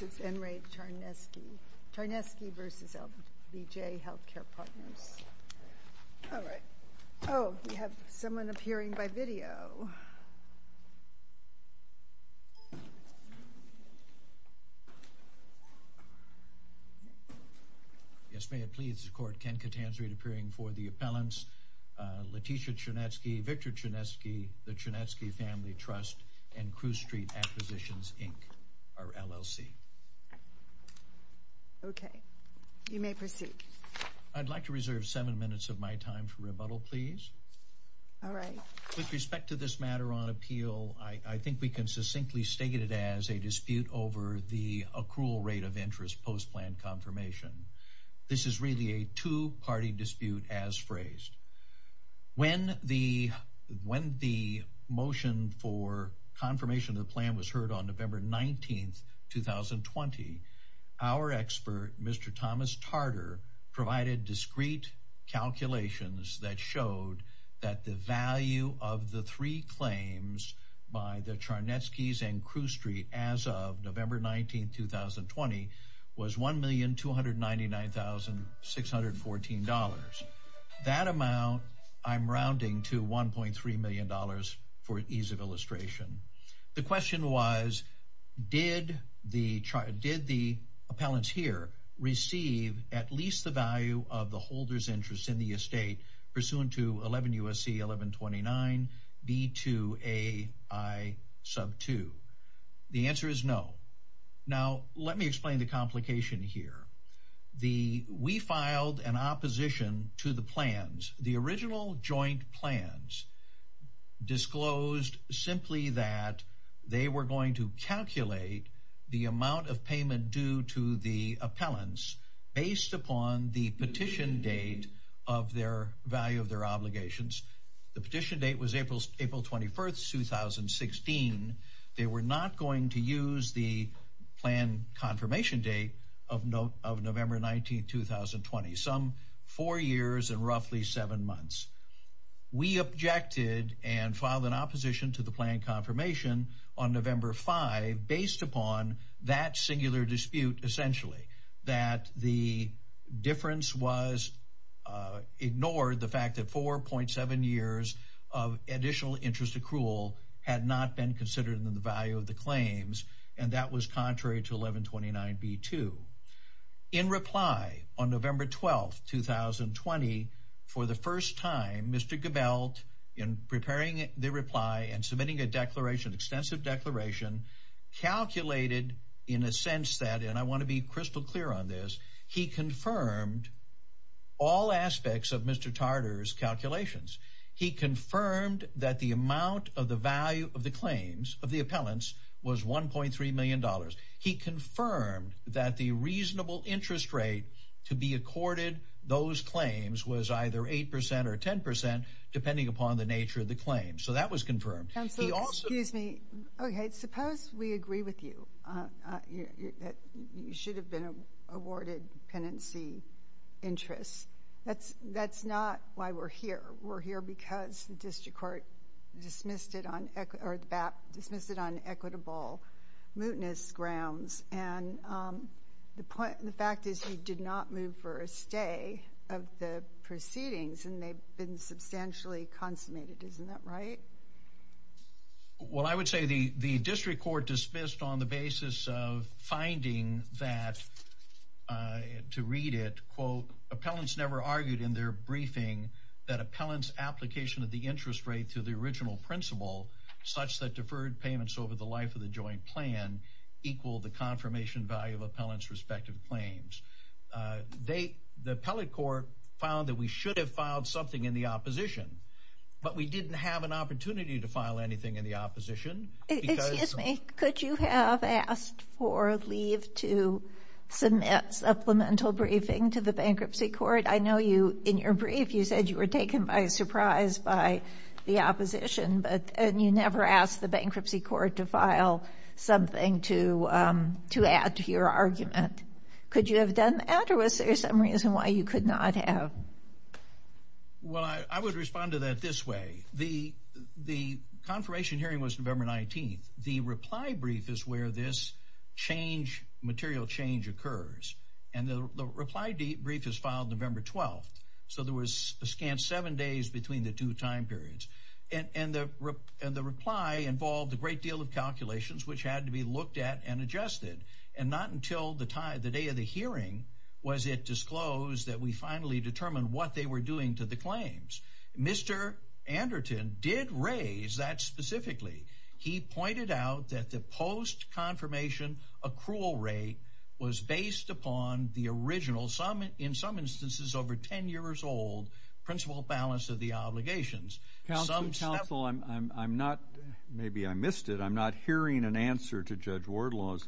This is N. Ray Charnetsky, Charnetsky v. LBJ Healthcare Partners. All right. Oh, we have someone appearing by video. Yes, may it please the court, Ken Catanzari appearing for the appellants, Leticia Charnetsky, Victor Charnetsky, the Charnetsky Family Trust, and Crewe Street Acquisitions, Inc., our LLC. Okay, you may proceed. I'd like to reserve seven minutes of my time for rebuttal, please. All right. With respect to this matter on appeal, I think we can succinctly state it as a dispute over the accrual rate of interest post-plan confirmation. This is really a two-party dispute as phrased. When the motion for confirmation of the plan was heard on November 19th, 2020, our expert, Mr. Thomas Tarter, provided discrete calculations that showed that the value of the three claims by the Charnetskys and Crewe Street as of November 19th, 2020 was $1,299,614. That amount, I'm rounding to $1.3 million for ease of illustration. The question was, did the appellants here receive at least the value of the holder's interest in the estate pursuant to 11 U.S.C. 1129 B2A I sub 2? The answer is no. Now, let me explain the complication here. The, we filed an opposition to the plans. The original joint plans disclosed simply that they were going to calculate the amount of payment due to the appellants based upon the petition date of their value of their obligations. The petition date was April 21st, 2016. They were not going to use the plan confirmation date of November 19th, 2020, some four years and roughly seven months. We objected and filed an opposition to the plan confirmation on November 5, based upon that singular dispute, essentially, that the difference was ignored, the fact that 4.7 years of additional interest accrual had not been considered in the value of the claims. And that was contrary to 1129 B2. In reply on November 12th, 2020, for the first time, Mr. Gebelt, in preparing the reply and submitting a declaration, extensive declaration, calculated in a sense that, and I want to be crystal clear on this, he confirmed all aspects of Mr. Tartar's calculations. He confirmed that the amount of the value of the claims, of the appellants, was $1.3 million. He confirmed that the reasonable interest rate to be accorded those claims was either 8% or 10%, depending upon the nature of the claim. So that was confirmed. He also- Councilor, excuse me. Okay, suppose we agree with you that you should have been awarded penancy interests. That's not why we're here. We're here because the district court dismissed it on, or dismissed it on equitable mootness grounds. And the fact is you did not move for a stay of the proceedings, and they've been substantially consummated. Isn't that right? Well, I would say the district court dismissed on the basis of finding that, to read it, quote, appellants never argued in their briefing that appellants' application of the interest rate to the original principle such that deferred payments over the life of the joint plan equal the confirmation value of appellants' respective claims. The appellate court found that we should have filed something in the opposition, but we didn't have an opportunity to file anything in the opposition. Excuse me, could you have asked for leave to submit supplemental briefing to the bankruptcy court? I know you, in your brief, you said you were taken by surprise by the opposition, but you never asked the bankruptcy court to file something to add to your argument. Could you have done that? Or was there some reason why you could not have? Well, I would respond to that this way. The confirmation hearing was November 19th. The reply brief is where this change, material change occurs. And the reply brief is filed November 12th. So there was a scant seven days between the two time periods. And the reply involved a great deal of calculations, which had to be looked at and adjusted. And not until the day of the hearing was it disclosed that we finally determined what they were doing to the claims. Mr. Anderton did raise that specifically. He pointed out that the post-confirmation accrual rate was based upon the original, in some instances, over 10 years old, principal balance of the obligations. Council, I'm not, maybe I missed it, I'm not hearing an answer to Judge Wardlaw's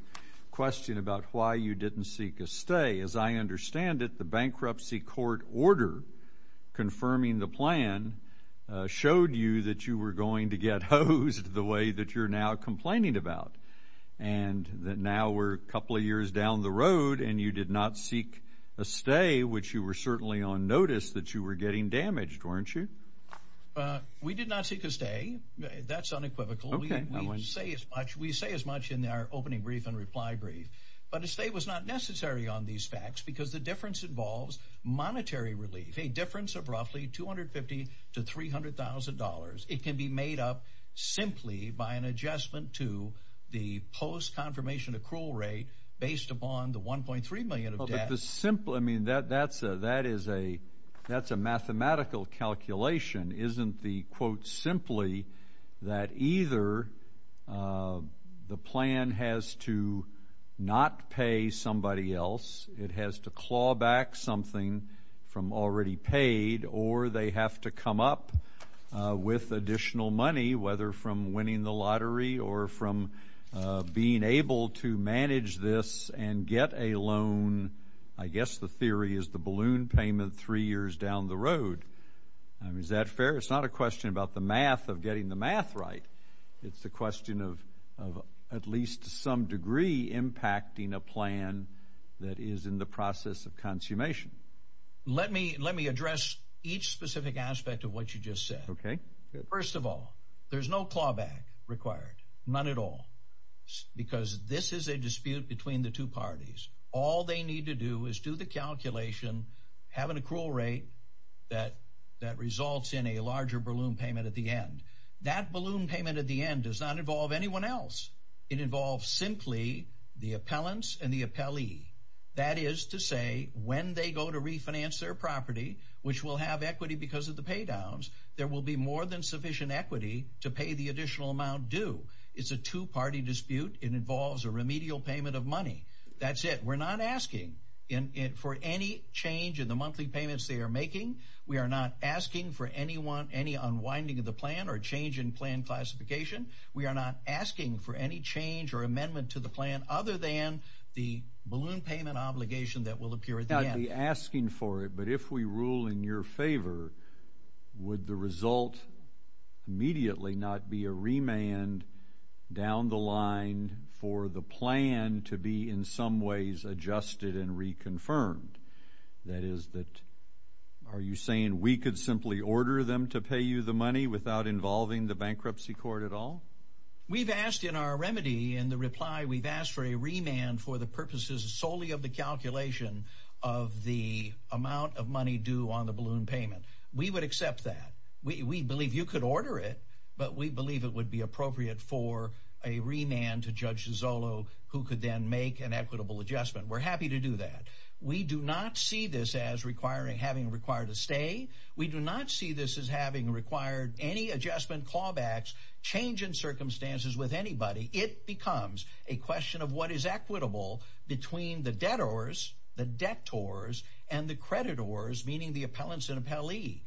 question about why you didn't seek a stay. As I understand it, the bankruptcy court order confirming the plan showed you that you were going to get hosed the way that you're now complaining about. And that now we're a couple of years down the road and you did not seek a stay, which you were certainly on notice that you were getting damaged, weren't you? We did not seek a stay. That's unequivocal. We say as much in our opening brief and reply brief. But a stay was not necessary on these facts because the difference involves monetary relief. A difference of roughly 250 to $300,000. It can be made up simply by an adjustment to the post-confirmation accrual rate based upon the 1.3 million of debt. But the simple, I mean, that's a mathematical calculation. Isn't the quote simply that either the plan has to not pay somebody else, it has to claw back something from already paid, or they have to come up with additional money, whether from winning the lottery or from being able to manage this and get a loan, I guess the theory is the balloon payment three years down the road. I mean, is that fair? It's not a question about the math of getting the math right. It's the question of at least some degree impacting a plan that is in the process of consummation. Let me address each specific aspect of what you just said. Okay, good. First of all, there's no clawback required, none at all, because this is a dispute between the two parties. All they need to do is do the calculation, have an accrual rate that results in a larger balloon payment at the end. That balloon payment at the end does not involve anyone else. It involves simply the appellants and the appellee. That is to say when they go to refinance their property, which will have equity because of the paydowns, there will be more than sufficient equity to pay the additional amount due. It's a two-party dispute. It involves a remedial payment of money. That's it. We're not asking for any change in the monthly payments they are making. We are not asking for any unwinding of the plan or change in plan classification. We are not asking for any change or amendment to the plan other than the balloon payment obligation that will appear at the end. I'd be asking for it, but if we rule in your favor, would the result immediately not be a remand down the line for the plan to be in some ways adjusted and reconfirmed? That is that, are you saying we could simply order them to pay you the money without involving the bankruptcy court at all? We've asked in our remedy, in the reply, we've asked for a remand for the purposes solely of the calculation of the amount of money due on the balloon payment. We would accept that. We believe you could order it, but we believe it would be appropriate for a remand to Judge Zollo who could then make an equitable adjustment. We're happy to do that. We do not see this as having required a stay. We do not see this as having required any adjustment, clawbacks, change in circumstances with anybody. It becomes a question of what is equitable between the debtors, the debtors, and the creditors, meaning the appellants and appellee.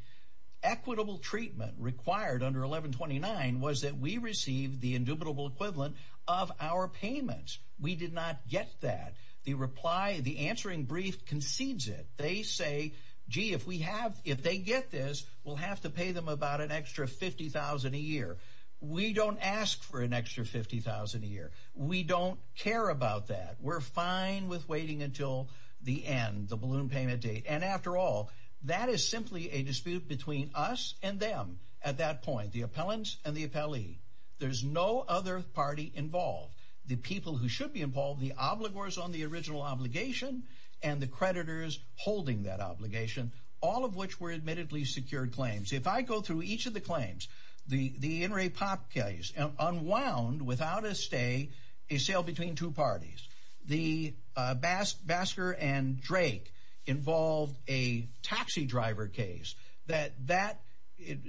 Equitable treatment required under 1129 was that we received the indubitable equivalent of our payments. We did not get that. The reply, the answering brief concedes it. They say, gee, if we have, if they get this, we'll have to pay them about an extra 50,000 a year. We don't ask for an extra 50,000 a year. We don't care about that. We're fine with waiting until the end, the balloon payment date. And after all, that is simply a dispute between us and them at that point, the appellants and the appellee. There's no other party involved. The people who should be involved, the obligors on the original obligation and the creditors holding that obligation, all of which were admittedly secured claims. If I go through each of the claims, the In re Pop case, unwound without a stay, a sale between two parties. The Bask, Baskar and Drake involved a taxi driver case that that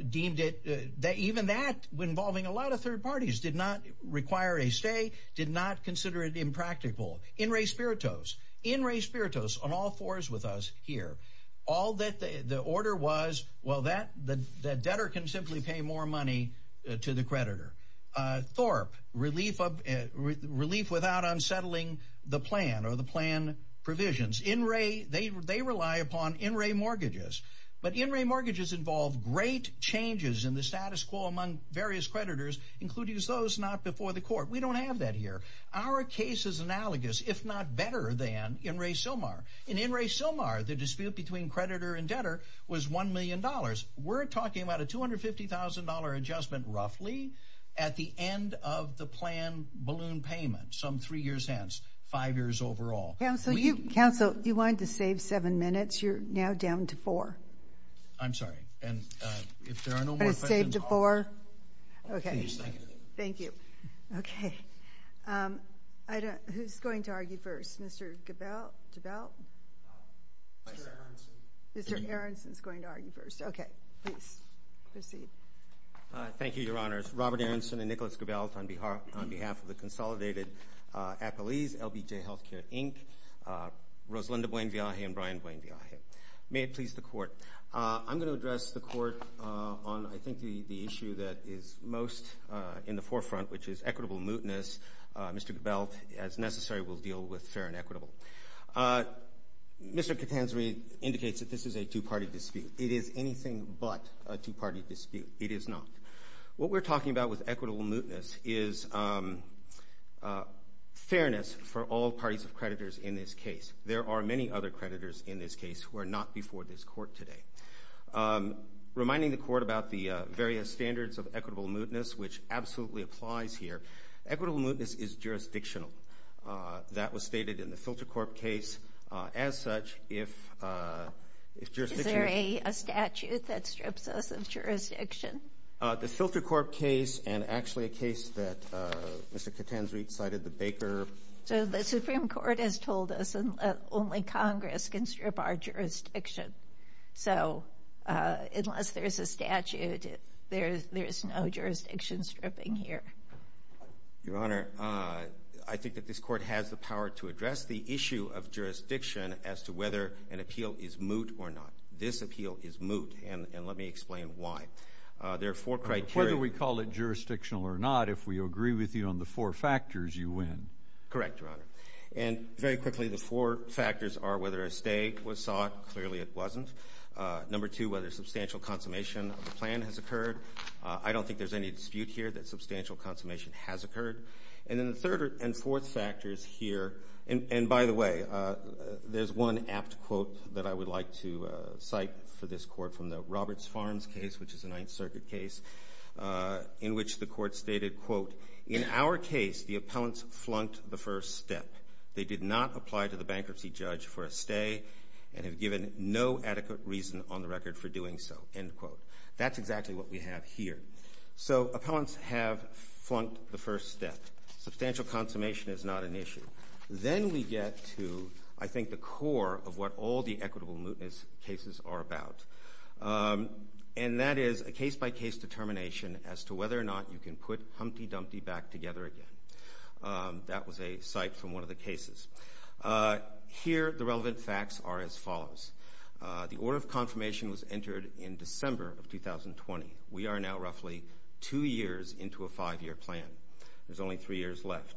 deemed it that even that involving a lot of third parties did not require a stay, did not consider it impractical. In re Spiritus, in re Spiritus on all fours with us here, all that the order was, well, that the debtor can simply pay more money to the creditor. Thorpe, relief without unsettling the plan or the plan provisions. In re, they rely upon in re mortgages, but in re mortgages involve great changes in the status quo among various creditors, including those not before the court. We don't have that here. Our case is analogous, if not better than in re Silmar. In in re Silmar, the dispute between creditor and debtor was $1 million. We're talking about a $250,000 adjustment roughly at the end of the plan balloon payment, some three years hence, five years overall. Council, you wanted to save seven minutes. You're now down to four. I'm sorry. And if there are no more questions. But it's saved to four. Okay. Thank you. Okay. Who's going to argue first? Mr. Gabel, Gabel. Mr. Aronson's going to argue first. Okay, please proceed. Thank you, your honors. Robert Aronson and Nicholas Gabel on behalf of the Consolidated Appellees, LBJ Healthcare, Inc., Rosalinda Buenviaje and Brian Buenviaje. May it please the court. I'm going to address the court on I think the issue that is most in the forefront, which is equitable mootness. Mr. Gabel, as necessary, we'll deal with fair and equitable. Mr. Catanzari indicates that this is a two-party dispute. It is anything but a two-party dispute. It is not. What we're talking about with equitable mootness is fairness for all parties of creditors in this case. There are many other creditors in this case who are not before this court today. Reminding the court about the various standards of equitable mootness, which absolutely applies here. Equitable mootness is jurisdictional. That was stated in the FilterCorp case. As such, if jurisdiction. Is there a statute that strips us of jurisdiction? The FilterCorp case and actually a case that Mr. Catanzari cited, the Baker. So the Supreme Court has told us only Congress can strip our jurisdiction. So unless there's a statute, there's no jurisdiction stripping here. Your Honor, I think that this court has the power to address the issue of jurisdiction as to whether an appeal is moot or not. This appeal is moot, and let me explain why. There are four criteria. Whether we call it jurisdictional or not, if we agree with you on the four factors, you win. Correct, Your Honor. And very quickly, the four factors are whether a stay was sought. Clearly it wasn't. Number two, whether substantial consummation of the plan has occurred. I don't think there's any dispute here that substantial consummation has occurred. And then the third and fourth factors here, and by the way, there's one apt quote that I would like to cite for this court from the Roberts Farms case, which is a Ninth Circuit case, in which the court stated, quote, "'In our case, the appellants flunked the first step. "'They did not apply to the bankruptcy judge for a stay "'and have given no adequate reason "'on the record for doing so,' end quote." That's exactly what we have here. So appellants have flunked the first step. Substantial consummation is not an issue. Then we get to, I think, the core of what all the equitable cases are about. And that is a case-by-case determination as to whether or not you can put Humpty Dumpty back together again. That was a cite from one of the cases. Here, the relevant facts are as follows. The order of confirmation was entered in December of 2020. We are now roughly two years into a five-year plan. There's only three years left.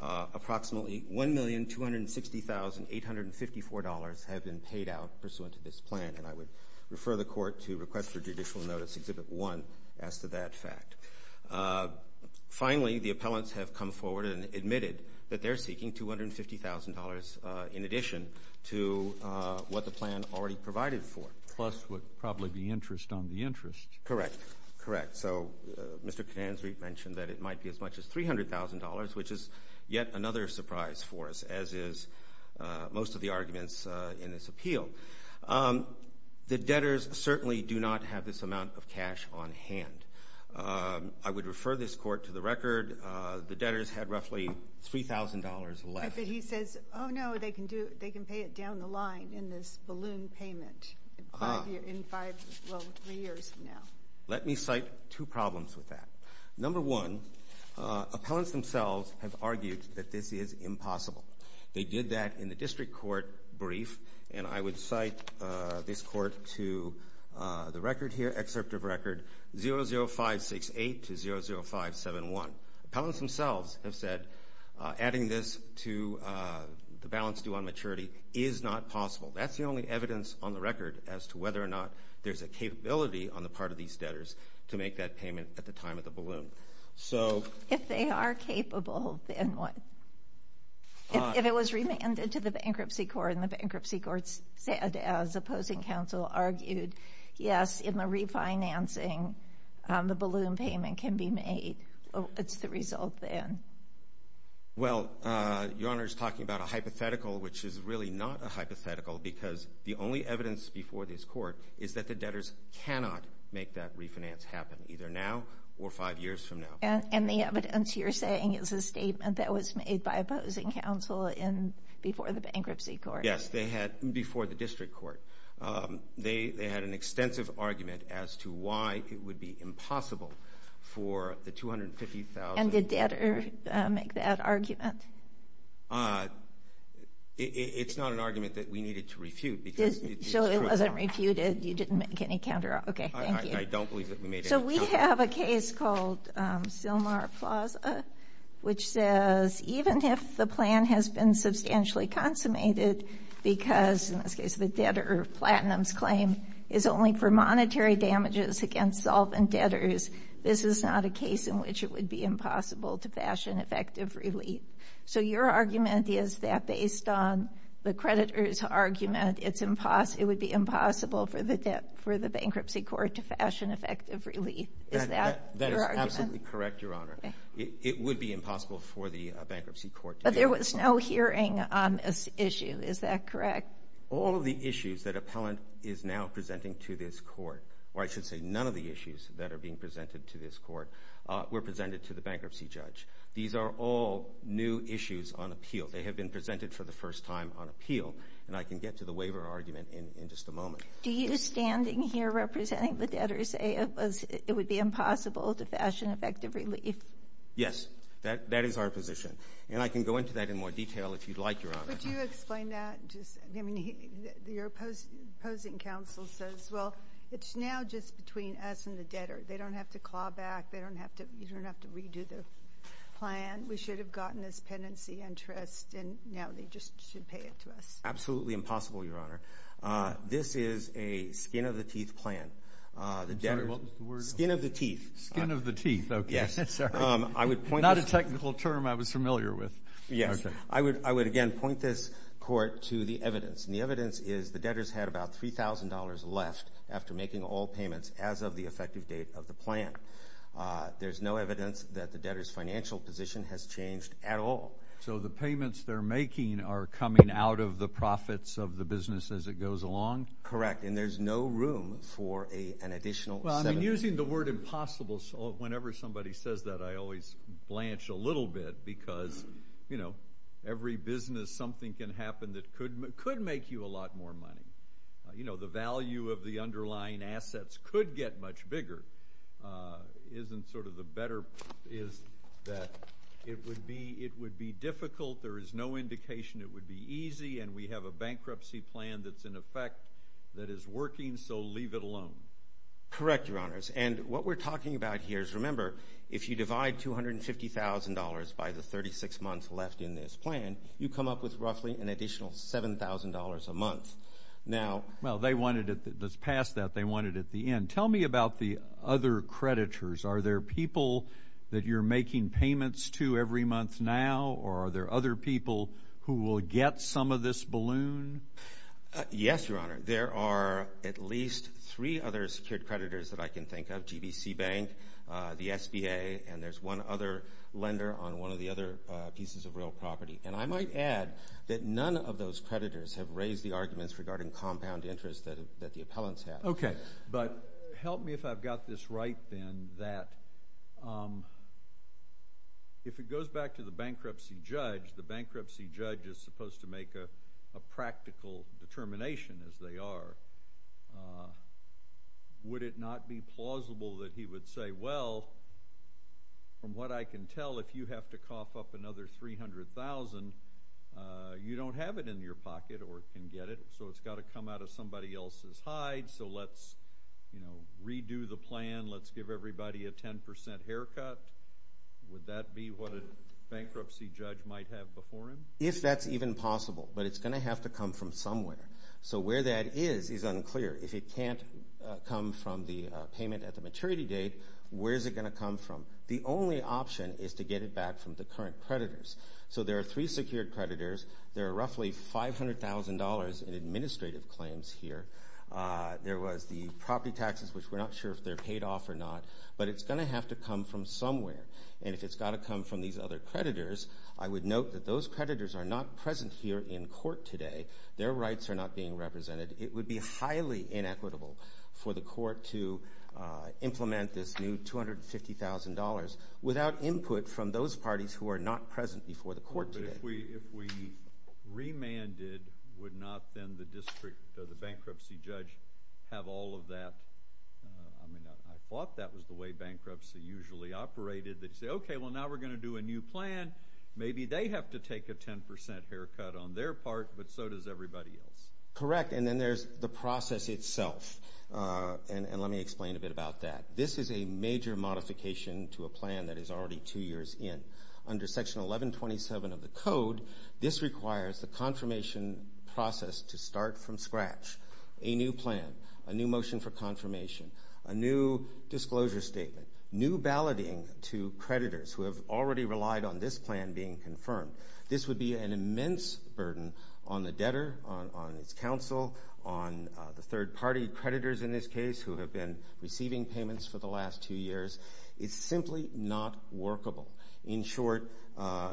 Approximately $1,260,854 have been paid out pursuant to this plan. And I would refer the court to request for judicial notice exhibit one as to that fact. Finally, the appellants have come forward and admitted that they're seeking $250,000 in addition to what the plan already provided for. Plus would probably be interest on the interest. Correct, correct. So Mr. Kansry mentioned that it might be as much as $300,000, which is yet another surprise for us as is most of the arguments in this appeal. The debtors certainly do not have this amount of cash on hand. I would refer this court to the record. The debtors had roughly $3,000 left. But he says, oh no, they can pay it down the line in this balloon payment in five, well, three years from now. Let me cite two problems with that. Number one, appellants themselves have argued that this is impossible. They did that in the district court brief. And I would cite this court to the record here, excerpt of record 00568 to 00571. Appellants themselves have said adding this to the balance due on maturity is not possible. That's the only evidence on the record as to whether or not there's a capability on the part of these debtors to make that payment at the time of the balloon. So. If they are capable, then what? If it was remanded to the bankruptcy court and the bankruptcy court said, as opposing counsel argued, yes, in the refinancing, the balloon payment can be made. It's the result then. Well, Your Honor is talking about a hypothetical, which is really not a hypothetical, because the only evidence before this court is that the debtors cannot make that refinance happen, either now or five years from now. And the evidence you're saying is a statement that was made by opposing counsel in before the bankruptcy court. Yes, they had, before the district court. They had an extensive argument as to why it would be impossible for the 250,000. And did debtor make that argument? It's not an argument that we needed to refute, because it's true. So it wasn't refuted, you didn't make any counter, okay, thank you. I don't believe that we made that argument. We have a case called Sylmar Plaza, which says even if the plan has been substantially consummated, because in this case, the debtor of Platinum's claim is only for monetary damages against solvent debtors, this is not a case in which it would be impossible to fashion effective relief. So your argument is that based on the creditor's argument, it would be impossible for the bankruptcy court to fashion effective relief. Is that your argument? That is absolutely correct, Your Honor. It would be impossible for the bankruptcy court to do that. But there was no hearing on this issue, is that correct? All of the issues that appellant is now presenting to this court, or I should say none of the issues that are being presented to this court, were presented to the bankruptcy judge. These are all new issues on appeal. They have been presented for the first time on appeal. And I can get to the waiver argument in just a moment. Do you, standing here representing the debtors, say it would be impossible to fashion effective relief? Yes, that is our position. And I can go into that in more detail if you'd like, Your Honor. Would you explain that? Just, I mean, your opposing counsel says, well, it's now just between us and the debtor. They don't have to claw back. They don't have to, you don't have to redo the plan. We should have gotten this penancy interest, and now they just should pay it to us. Absolutely impossible, Your Honor. This is a skin-of-the-teeth plan. The debtor, skin of the teeth. Skin of the teeth, okay. Yes, I would point this. Not a technical term I was familiar with. Yes, I would again point this court to the evidence. And the evidence is the debtors had about $3,000 left after making all payments as of the effective date of the plan. There's no evidence that the debtor's financial position has changed at all. So the payments they're making are coming out of the profits of the business as it goes along? Correct, and there's no room for an additional seven. Well, I mean, using the word impossible, whenever somebody says that, I always blanch a little bit, because every business, something can happen that could make you a lot more money. The value of the underlying assets could get much bigger. Isn't sort of the better, is that it would be difficult. There is no indication it would be easy, and we have a bankruptcy plan that's in effect that is working, so leave it alone. Correct, Your Honors. And what we're talking about here is, remember, if you divide $250,000 by the 36 months left in this plan, you come up with roughly an additional $7,000 a month. Now- Well, they wanted it. Let's pass that. They wanted it at the end. Tell me about the other creditors. Are there people that you're making payments to every month now? Or are there other people who will get some of this balloon? Yes, Your Honor. There are at least three other secured creditors that I can think of, GBC Bank, the SBA, and there's one other lender on one of the other pieces of real property. And I might add that none of those creditors have raised the arguments regarding compound interest that the appellants have. Okay, but help me if I've got this right, then, that if it goes back to the bankruptcy judge, the bankruptcy judge is supposed to make a practical determination, as they are. Would it not be plausible that he would say, well, from what I can tell, if you have to cough up another 300,000, you don't have it in your pocket or can get it, so it's gotta come out of somebody else's hide, so let's redo the plan. Let's give everybody a 10% haircut. Would that be what a bankruptcy judge might have before him? If that's even possible, but it's gonna have to come from somewhere. So where that is is unclear. If it can't come from the payment at the maturity date, where is it gonna come from? The only option is to get it back from the current creditors. So there are three secured creditors. There are roughly $500,000 in administrative claims here. There was the property taxes, which we're not sure if they're paid off or not, but it's gonna have to come from somewhere, and if it's gotta come from these other creditors, I would note that those creditors are not present here in court today. Their rights are not being represented. It would be highly inequitable for the court to implement this new $250,000 without input from those parties who are not present before the court today. But if we remanded, would not then the district, the bankruptcy judge, have all of that? I mean, I thought that was the way bankruptcy usually operated. They'd say, okay, well now we're gonna do a new plan. Maybe they have to take a 10% haircut on their part, but so does everybody else. Correct, and then there's the process itself. And let me explain a bit about that. This is a major modification to a plan that is already two years in. Under section 1127 of the code, this requires the confirmation process to start from scratch. A new plan, a new motion for confirmation, a new disclosure statement, new balloting to creditors who have already relied on this plan being confirmed. This would be an immense burden on the debtor, on its counsel, on the third party creditors in this case who have been receiving payments for the last two years. It's simply not workable. In short,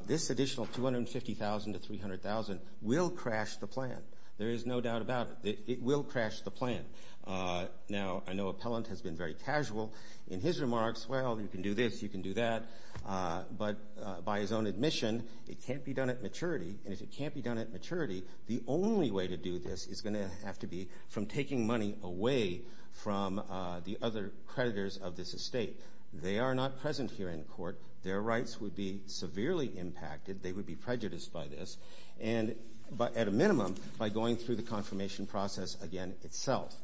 this additional $250,000 to $300,000 will crash the plan. There is no doubt about it. It will crash the plan. Now, I know Appellant has been very casual in his remarks. Well, you can do this, you can do that. But by his own admission, it can't be done at maturity. And if it can't be done at maturity, the only way to do this is gonna have to be from taking money away from the other creditors of this estate. They are not present here in court. Their rights would be severely impacted. They would be prejudiced by this. And at a minimum, by going through the confirmation process again itself.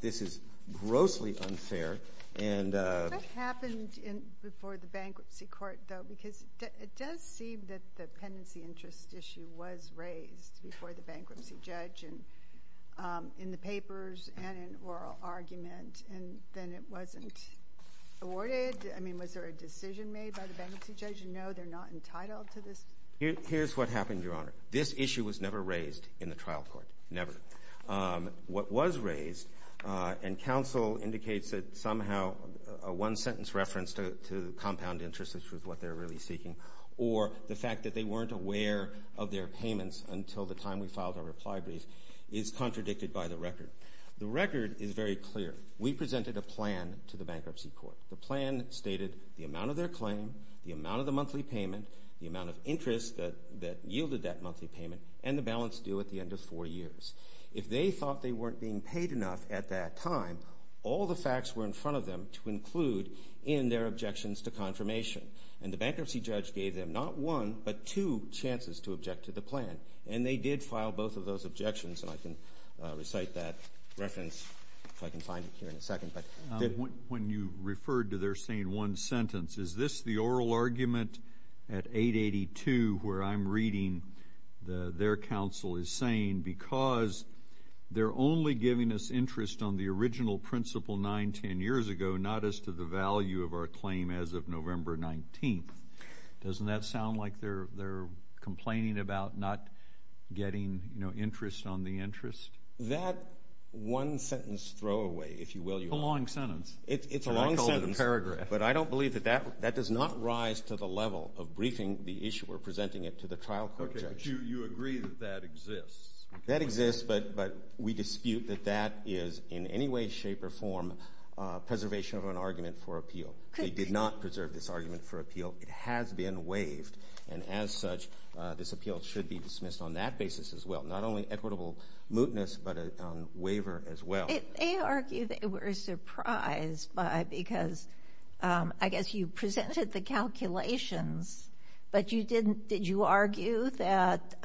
This is grossly unfair. What happened before the bankruptcy court, though? Because it does seem that the pendency interest issue was raised before the bankruptcy judge and in the papers and in oral argument, and then it wasn't awarded. I mean, was there a decision made by the bankruptcy judge? And no, they're not entitled to this? Here's what happened, Your Honor. This issue was never raised in the trial court, never. What was raised, and counsel indicates that somehow a one-sentence reference to compound interest, which is what they're really seeking, or the fact that they weren't aware of their payments until the time we filed our reply brief is contradicted by the record. The record is very clear. We presented a plan to the bankruptcy court. The plan stated the amount of their claim, the amount of the monthly payment, the amount of interest that yielded that monthly payment, and the balance due at the end of four years. If they thought they weren't being paid enough at that time, all the facts were in front of them to include in their objections to confirmation. And the bankruptcy judge gave them not one, but two chances to object to the plan. And they did file both of those objections, and I can recite that reference, if I can find it here in a second. When you referred to their saying one sentence, is this the oral argument at 882, where I'm reading their counsel is saying, because they're only giving us interest on the original principle nine, 10 years ago, not as to the value of our claim as of November 19th. Doesn't that sound like they're complaining about not getting interest on the interest? That one sentence throwaway, if you will, your honor. It's a long sentence. It's a long sentence, but I don't believe that does not rise to the level of briefing the issue or presenting it to the trial court judge. You agree that that exists? That exists, but we dispute that that is, in any way, shape, or form, preservation of an argument for appeal. They did not preserve this argument for appeal. It has been waived, and as such, this appeal should be dismissed on that basis as well. Not only equitable mootness, but a waiver as well. They argue they were surprised by, because I guess you presented the calculations, but did you argue that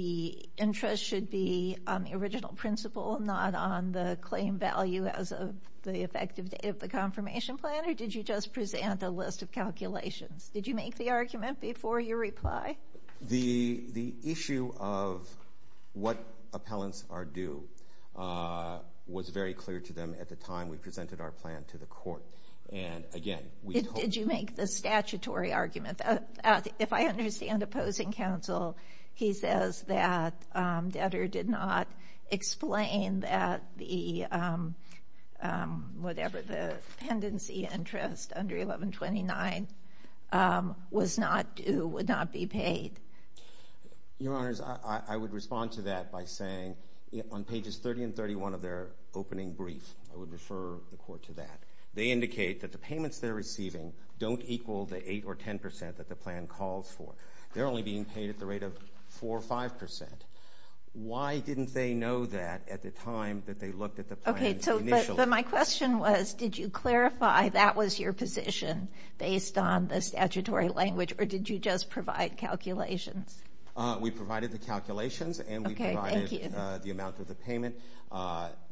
the interest should be on the original principle, not on the claim value as of the effective date of the confirmation plan, or did you just present a list of calculations? Did you make the argument before your reply? The issue of what appellants are due was very clear to them at the time we presented our plan to the court, and again, we hope. Did you make the statutory argument? If I understand opposing counsel, he says that Detter did not explain that the, whatever, the pendency interest under 1129 was not due, would not be paid. Your Honors, I would respond to that by saying, on pages 30 and 31 of their opening brief, I would refer the court to that. They indicate that the payments they're receiving don't equal the eight or 10% that the plan calls for. They're only being paid at the rate of four or 5%. Why didn't they know that at the time that they looked at the plan initially? Okay, so, but my question was, did you clarify that was your position based on the statutory language, or did you just provide calculations? We provided the calculations, and we provided the amount of the payment.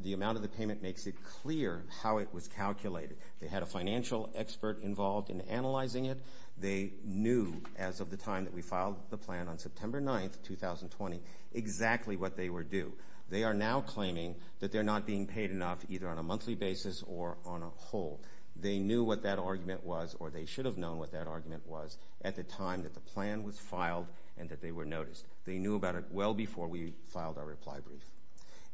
The amount of the payment makes it clear how it was calculated. They had a financial expert involved in analyzing it. They knew, as of the time that we filed the plan, on September 9th, 2020, exactly what they were due. They are now claiming that they're not being paid enough, either on a monthly basis or on a whole. They knew what that argument was, or they should have known what that argument was, at the time that the plan was filed and that they were noticed. They knew about it well before we filed our reply brief.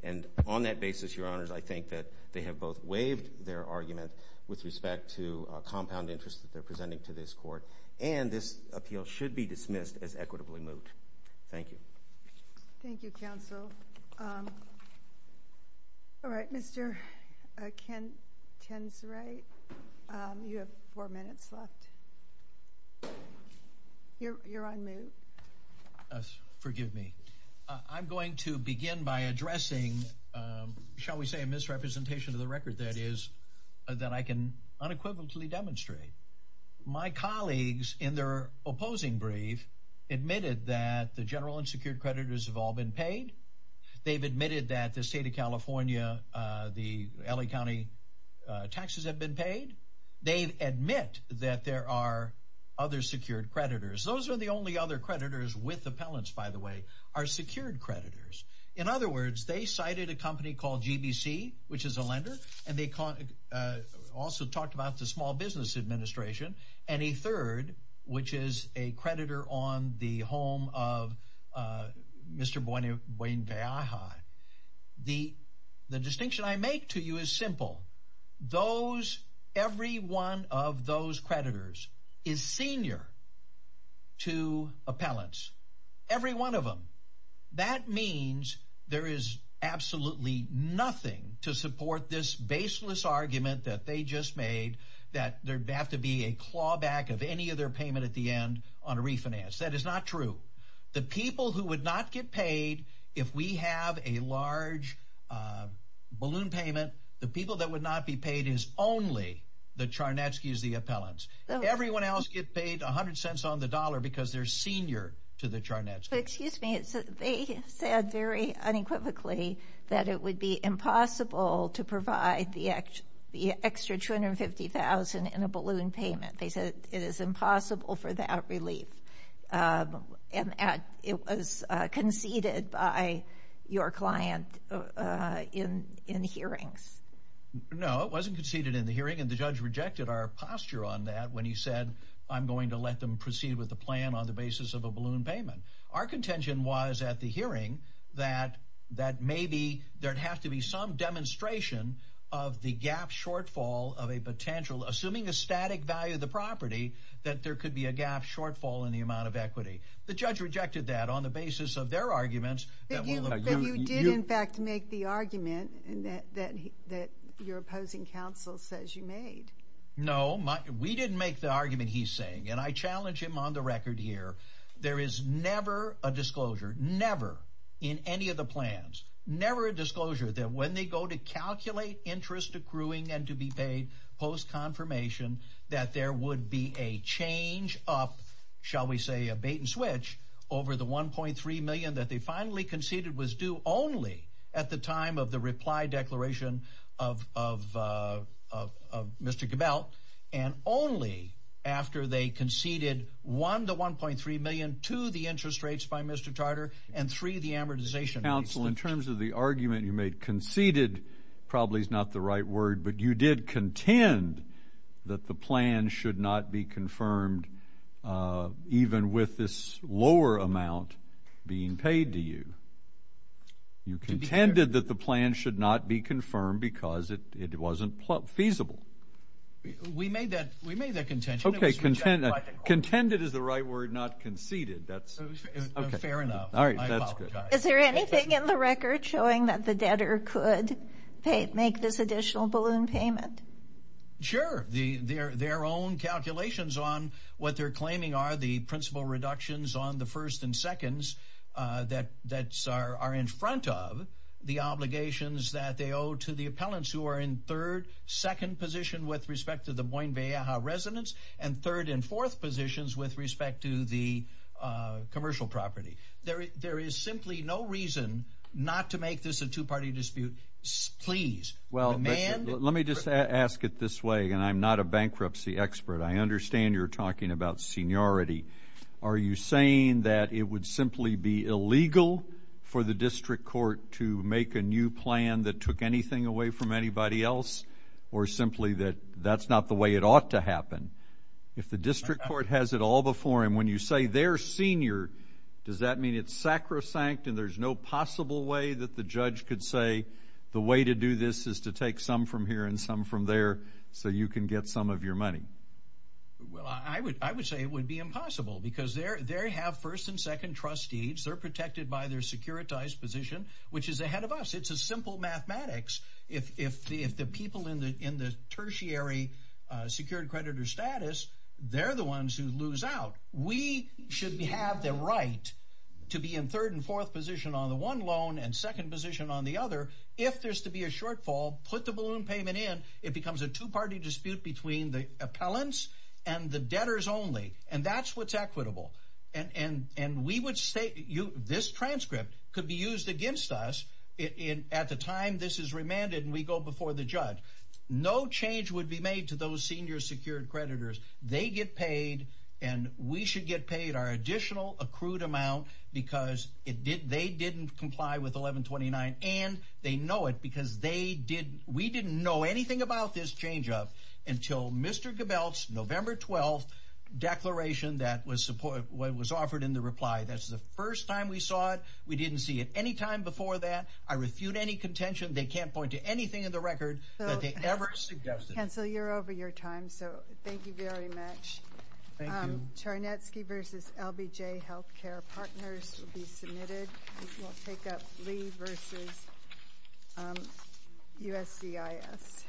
And on that basis, your honors, I think that they have both waived their argument with respect to compound interest that they're presenting to this court, and this appeal should be dismissed as equitably moved. Thank you. Thank you, counsel. All right, Mr. Ken Tenserate, you have four minutes left. You're on mute. Forgive me. I'm going to begin by addressing, shall we say, a misrepresentation of the record, that is, that I can unequivocally demonstrate. My colleagues, in their opposing brief, admitted that the general and secured creditors have all been paid. They've admitted that the state of California, the LA County taxes have been paid. They admit that there are other secured creditors. Those are the only other creditors with appellants, by the way, are secured creditors. In other words, they cited a company called GBC, which is a lender, and they also talked about the Small Business Administration, and a third, which is a creditor on the home of Mr. Buenviaja. The distinction I make to you is simple. Those, every one of those creditors is senior to appellants. Every one of them. That means there is absolutely nothing to support this baseless argument that they just made, that there'd have to be a clawback of any of their payment at the end on a refinance. That is not true. The people who would not get paid, if we have a large balloon payment, the people that would not be paid is only the Charnetskys, the appellants. Everyone else gets paid 100 cents on the dollar because they're senior to the Charnetskys. But excuse me, they said very unequivocally that it would be impossible to provide the extra 250,000 in a balloon payment. They said it is impossible for that relief. And it was conceded by your client in hearings. No, it wasn't conceded in the hearing, and the judge rejected our posture on that when he said, I'm going to let them proceed with the plan on the basis of a balloon payment. Our contention was at the hearing that maybe there'd have to be some demonstration of the gap shortfall of a potential, assuming a static value of the property, that there could be a gap shortfall in the amount of equity. The judge rejected that on the basis of their arguments. But you did, in fact, make the argument that your opposing counsel says you made. No, we didn't make the argument he's saying, and I challenge him on the record here. There is never a disclosure, never in any of the plans, never a disclosure that when they go to calculate interest accruing and to be paid post-confirmation that there would be a change up, shall we say a bait and switch, over the 1.3 million that they finally conceded was due only at the time of the reply declaration of Mr. Gabell, and only after they conceded one to 1.3 million, two, the interest rates by Mr. Tartar, and three, the amortization. Counsel, in terms of the argument you made, conceded probably is not the right word, but you did contend that the plan should not be confirmed even with this lower amount being paid to you. You contended that the plan should not be confirmed because it wasn't feasible. We made that contention, it was rejected by the court. Contended is the right word, not conceded, that's okay. Fair enough, I apologize. Is there anything in the record showing that the debtor could make this additional balloon payment? Sure, their own calculations on what they're claiming are the principal reductions on the first and seconds that are in front of the obligations that they owe to the appellants who are in third, second position with respect to the Boyne-Vallejo residence, and third and fourth positions with respect to the commercial property. There is simply no reason not to make this a two-party dispute, please. Well, let me just ask it this way, and I'm not a bankruptcy expert. I understand you're talking about seniority. Are you saying that it would simply be illegal for the district court to make a new plan that took anything away from anybody else, or simply that that's not the way it ought to happen? If the district court has it all before him, when you say they're senior, does that mean it's sacrosanct and there's no possible way that the judge could say the way to do this is to take some from here and some from there so you can get some of your money? Well, I would say it would be impossible because they have first and second trustees. They're protected by their securitized position, which is ahead of us. It's a simple mathematics. If the people in the tertiary secured creditor status, they're the ones who lose out. We should have the right to be in third and fourth position on the one loan and second position on the other. If there's to be a shortfall, put the balloon payment in. It becomes a two-party dispute between the appellants and the debtors only. And that's what's equitable. And we would say this transcript could be used against us at the time this is remanded and we go before the judge. No change would be made to those senior secured creditors. They get paid and we should get paid our additional accrued amount because they didn't comply with 1129. And they know it because we didn't know anything about this change up. Until Mr. Gebelt's November 12th declaration that was offered in the reply. That's the first time we saw it. We didn't see it any time before that. I refute any contention. They can't point to anything in the record that they ever suggested. Cancel, you're over your time. So thank you very much. Thank you. Charnetsky versus LBJ Healthcare Partners will be submitted. We'll take up Lee versus USDIS.